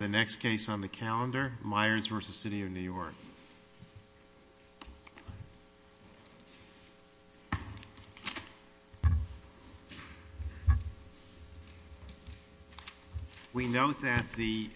The next case on the calendar, Myers v. City of New York. We note that the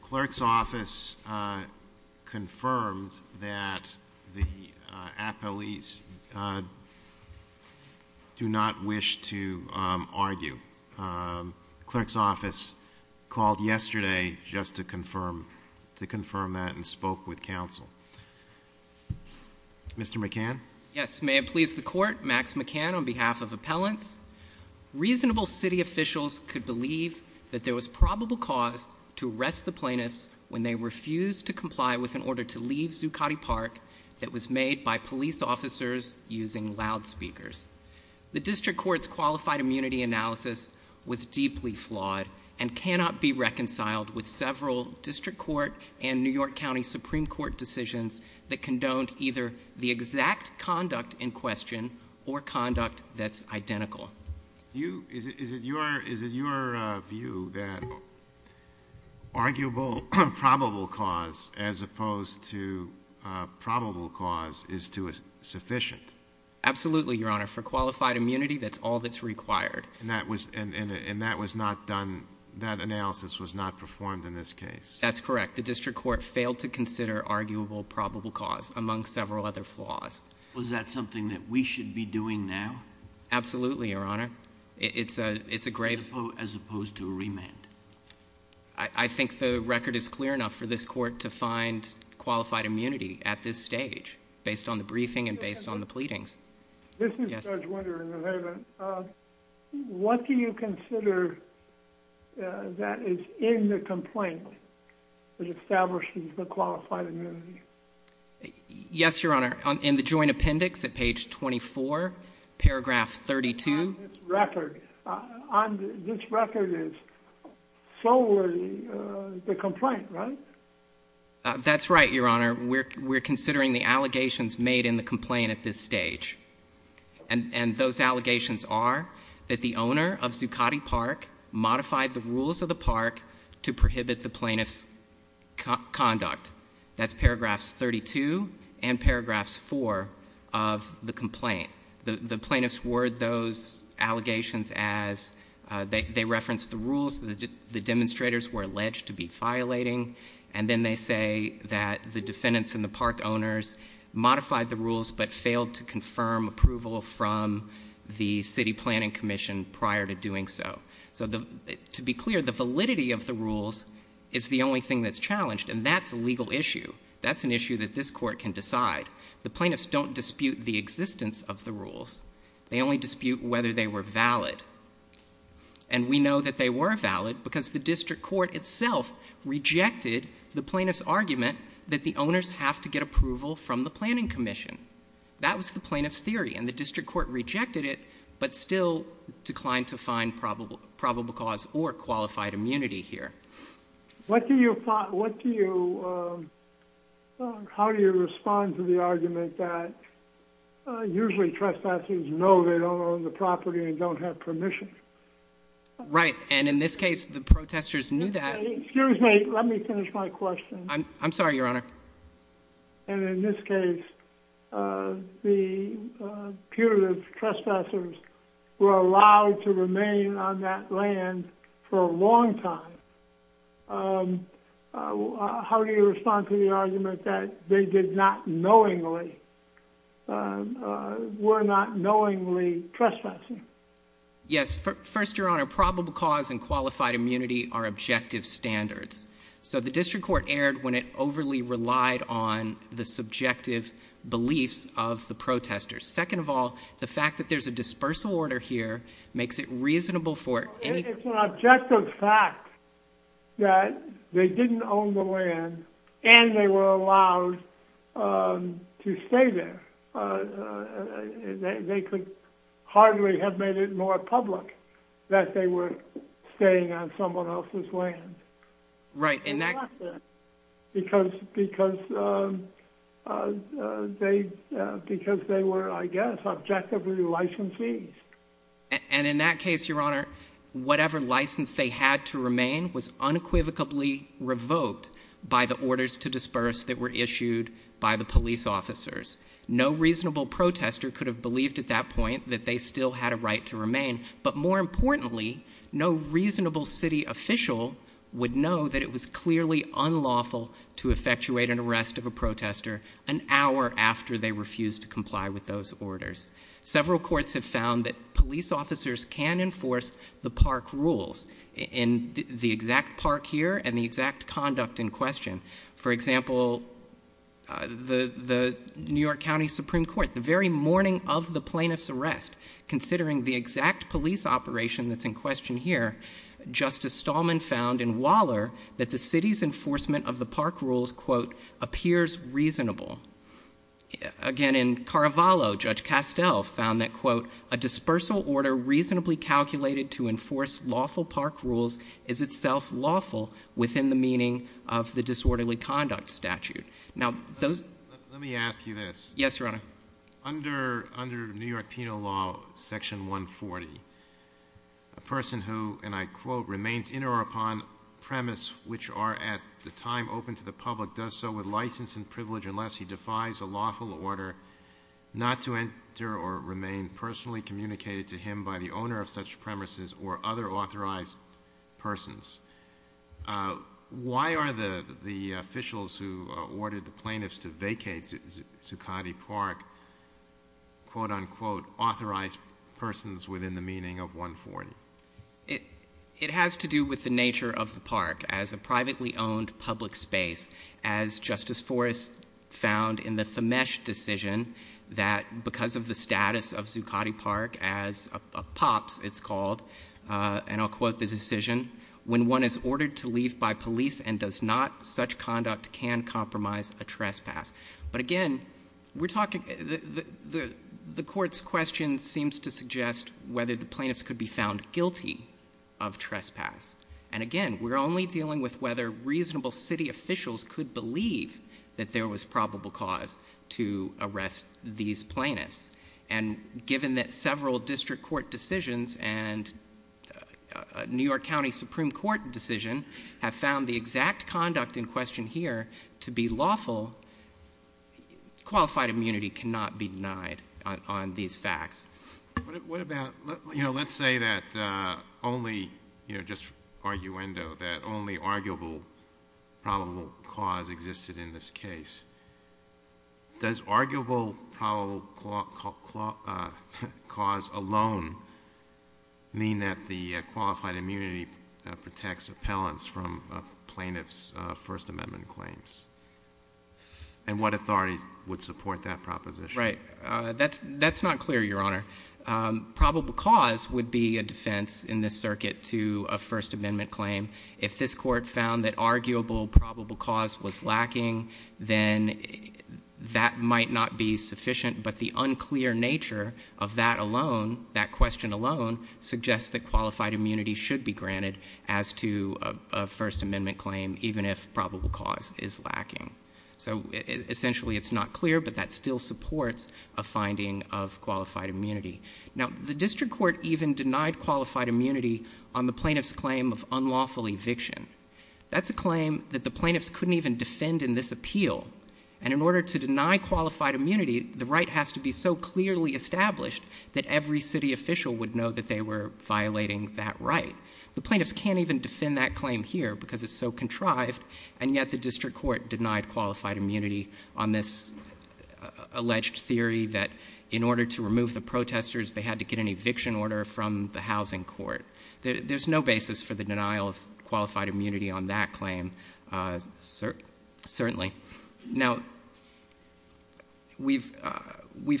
clerk's office confirmed that the appellees do not wish to argue. The clerk's office called yesterday just to confirm that and spoke with counsel. Mr. McCann? Yes. May it please the court, Max McCann on behalf of Appellants. Reasonable city officials could believe that there was probable cause to arrest the plaintiffs when they refused to comply with an order to leave Zuccotti Park that was made by police officers using loudspeakers. The district court's qualified immunity analysis was deeply flawed and cannot be reconciled with several district court and New York County Supreme Court decisions that condoned either the exact conduct in question or conduct that's identical. Is it your view that arguable probable cause as opposed to probable cause is sufficient? Absolutely, Your Honor. For qualified immunity, that's all that's required. And that was not done, that analysis was not performed in this case? That's correct. The district court failed to consider arguable probable cause among several other flaws. Was that something that we should be doing now? Absolutely, Your Honor. It's a grave... As opposed to a remand? I think the record is clear enough for this court to find qualified immunity at this stage based on the briefing and based on the pleadings. This is Judge Winter in the Haven. What do you consider that is in the complaint that establishes the qualified immunity? Yes, Your Honor. In the joint appendix at page 24, paragraph 32. On this record, this record is solely the complaint, right? That's right, Your Honor. We're considering the allegations made in the complaint at this stage. And those allegations are that the owner of Zuccotti Park modified the rules of the park to prohibit the plaintiff's conduct. That's paragraphs 32 and paragraphs 4 of the complaint. The plaintiffs word those allegations as, they reference the rules that the demonstrators were alleged to be violating. And then they say that the defendants and the park owners modified the rules but failed to confirm approval from the city planning commission prior to doing so. So to be clear, the validity of the rules is the only thing that's challenged, and that's a legal issue. That's an issue that this court can decide. The plaintiffs don't dispute the existence of the rules. They only dispute whether they were valid. And we know that they were valid because the district court itself rejected the plaintiff's argument that the owners have to get approval from the planning commission. That was the plaintiff's theory, and the district court rejected it, but still declined to find probable cause or qualified immunity here. What do you, how do you respond to the argument that usually trespassers know they don't own the property and don't have permission? Right, and in this case, the protesters knew that. Excuse me, let me finish my question. I'm sorry, your honor. And in this case, the putative trespassers were allowed to remain on that land for a long time. How do you respond to the argument that they did not knowingly, were not knowingly trespassing? Yes. First, your honor, probable cause and qualified immunity are objective standards. So the district court erred when it overly relied on the subjective beliefs of the protesters. Second of all, the fact that there's a dispersal order here makes it reasonable for any- It's an objective fact that they didn't own the land and they were allowed to stay there. They could hardly have made it more public that they were staying on someone else's land. Right, and that- Because they were, I guess, objectively licensees. And in that case, your honor, whatever license they had to remain was unequivocally revoked by the orders to disperse that were issued by the police officers. No reasonable protester could have believed at that point that they still had a right to remain. But more importantly, no reasonable city official would know that it was clearly unlawful to effectuate an arrest of a protester an hour after they refused to comply with those orders. Several courts have found that police officers can enforce the park rules in the exact park here and the exact conduct in question. For example, the New York County Supreme Court, the very morning of the plaintiff's arrest, considering the exact police operation that's in question here, Justice Stallman found in Waller that the city's enforcement of the park rules, quote, appears reasonable. Again, in Carvalho, Judge Castell found that, quote, a dispersal order reasonably calculated to enforce lawful park rules is itself lawful within the meaning of the disorderly conduct statute. Now, those- Let me ask you this. Yes, your honor. Under New York penal law section 140, a person who, and I quote, remains in or upon premise which are at the time open to the public does so with license and privilege unless he does so defies a lawful order not to enter or remain personally communicated to him by the owner of such premises or other authorized persons. Why are the officials who ordered the plaintiffs to vacate Zuccotti Park, quote, unquote, authorized persons within the meaning of 140? It has to do with the nature of the park. As a privately owned public space, as Justice Forrest found in the Thamesh decision that because of the status of Zuccotti Park as a POPs, it's called, and I'll quote the decision, when one is ordered to leave by police and does not, such conduct can compromise a trespass. But again, we're talking, the court's question seems to suggest whether the plaintiffs could be found guilty of trespass. And again, we're only dealing with whether reasonable city officials could believe that there was probable cause to arrest these plaintiffs. And given that several district court decisions and New York County Supreme Court decision have found the exact conduct in question here to be lawful, qualified immunity cannot be denied on these facts. What about, you know, let's say that only, you know, just arguendo, that only arguable probable cause existed in this case. Does arguable probable cause alone mean that the qualified immunity protects appellants from plaintiff's First Amendment claims? And what authorities would support that proposition? Right. That's not clear, Your Honor. Probable cause would be a defense in this circuit to a First Amendment claim. If this court found that arguable probable cause was lacking, then that might not be sufficient. But the unclear nature of that alone, that question alone, suggests that qualified immunity should be granted as to a First Amendment claim, even if probable cause is lacking. So essentially, it's not clear, but that still supports a finding of qualified immunity. Now, the district court even denied qualified immunity on the plaintiff's claim of unlawful eviction. That's a claim that the plaintiffs couldn't even defend in this appeal. And in order to deny qualified immunity, the right has to be so clearly established that every city official would know that they were violating that right. The plaintiffs can't even defend that claim here because it's so contrived. And yet the district court denied qualified immunity on this alleged theory that in order to remove the protesters, they had to get an eviction order from the housing court. There's no basis for the denial of qualified immunity on that claim, certainly. Now, we've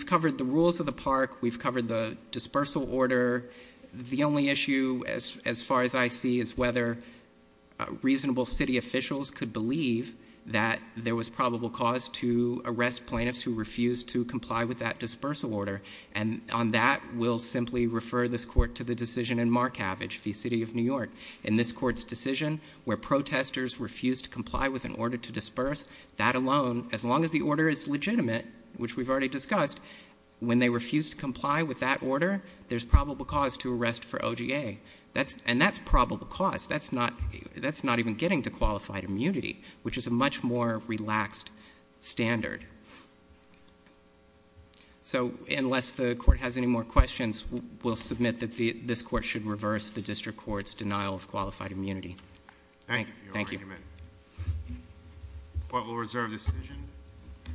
covered the rules of the park. We've covered the dispersal order. The only issue, as far as I see, is whether reasonable city officials could believe that there was probable cause to arrest plaintiffs who refused to comply with that dispersal order. And on that, we'll simply refer this court to the decision in Markavich v. City of New York. In this court's decision, where protesters refused to comply with an order to disperse, that alone, as long as the order is legitimate, which we've already discussed, when they refuse to comply with that order, there's probable cause to arrest for OGA. And that's probable cause. That's not even getting to qualified immunity, which is a much more relaxed standard. So unless the court has any more questions, we'll submit that this court should reverse the district court's denial of qualified immunity. Thank you. Thank you.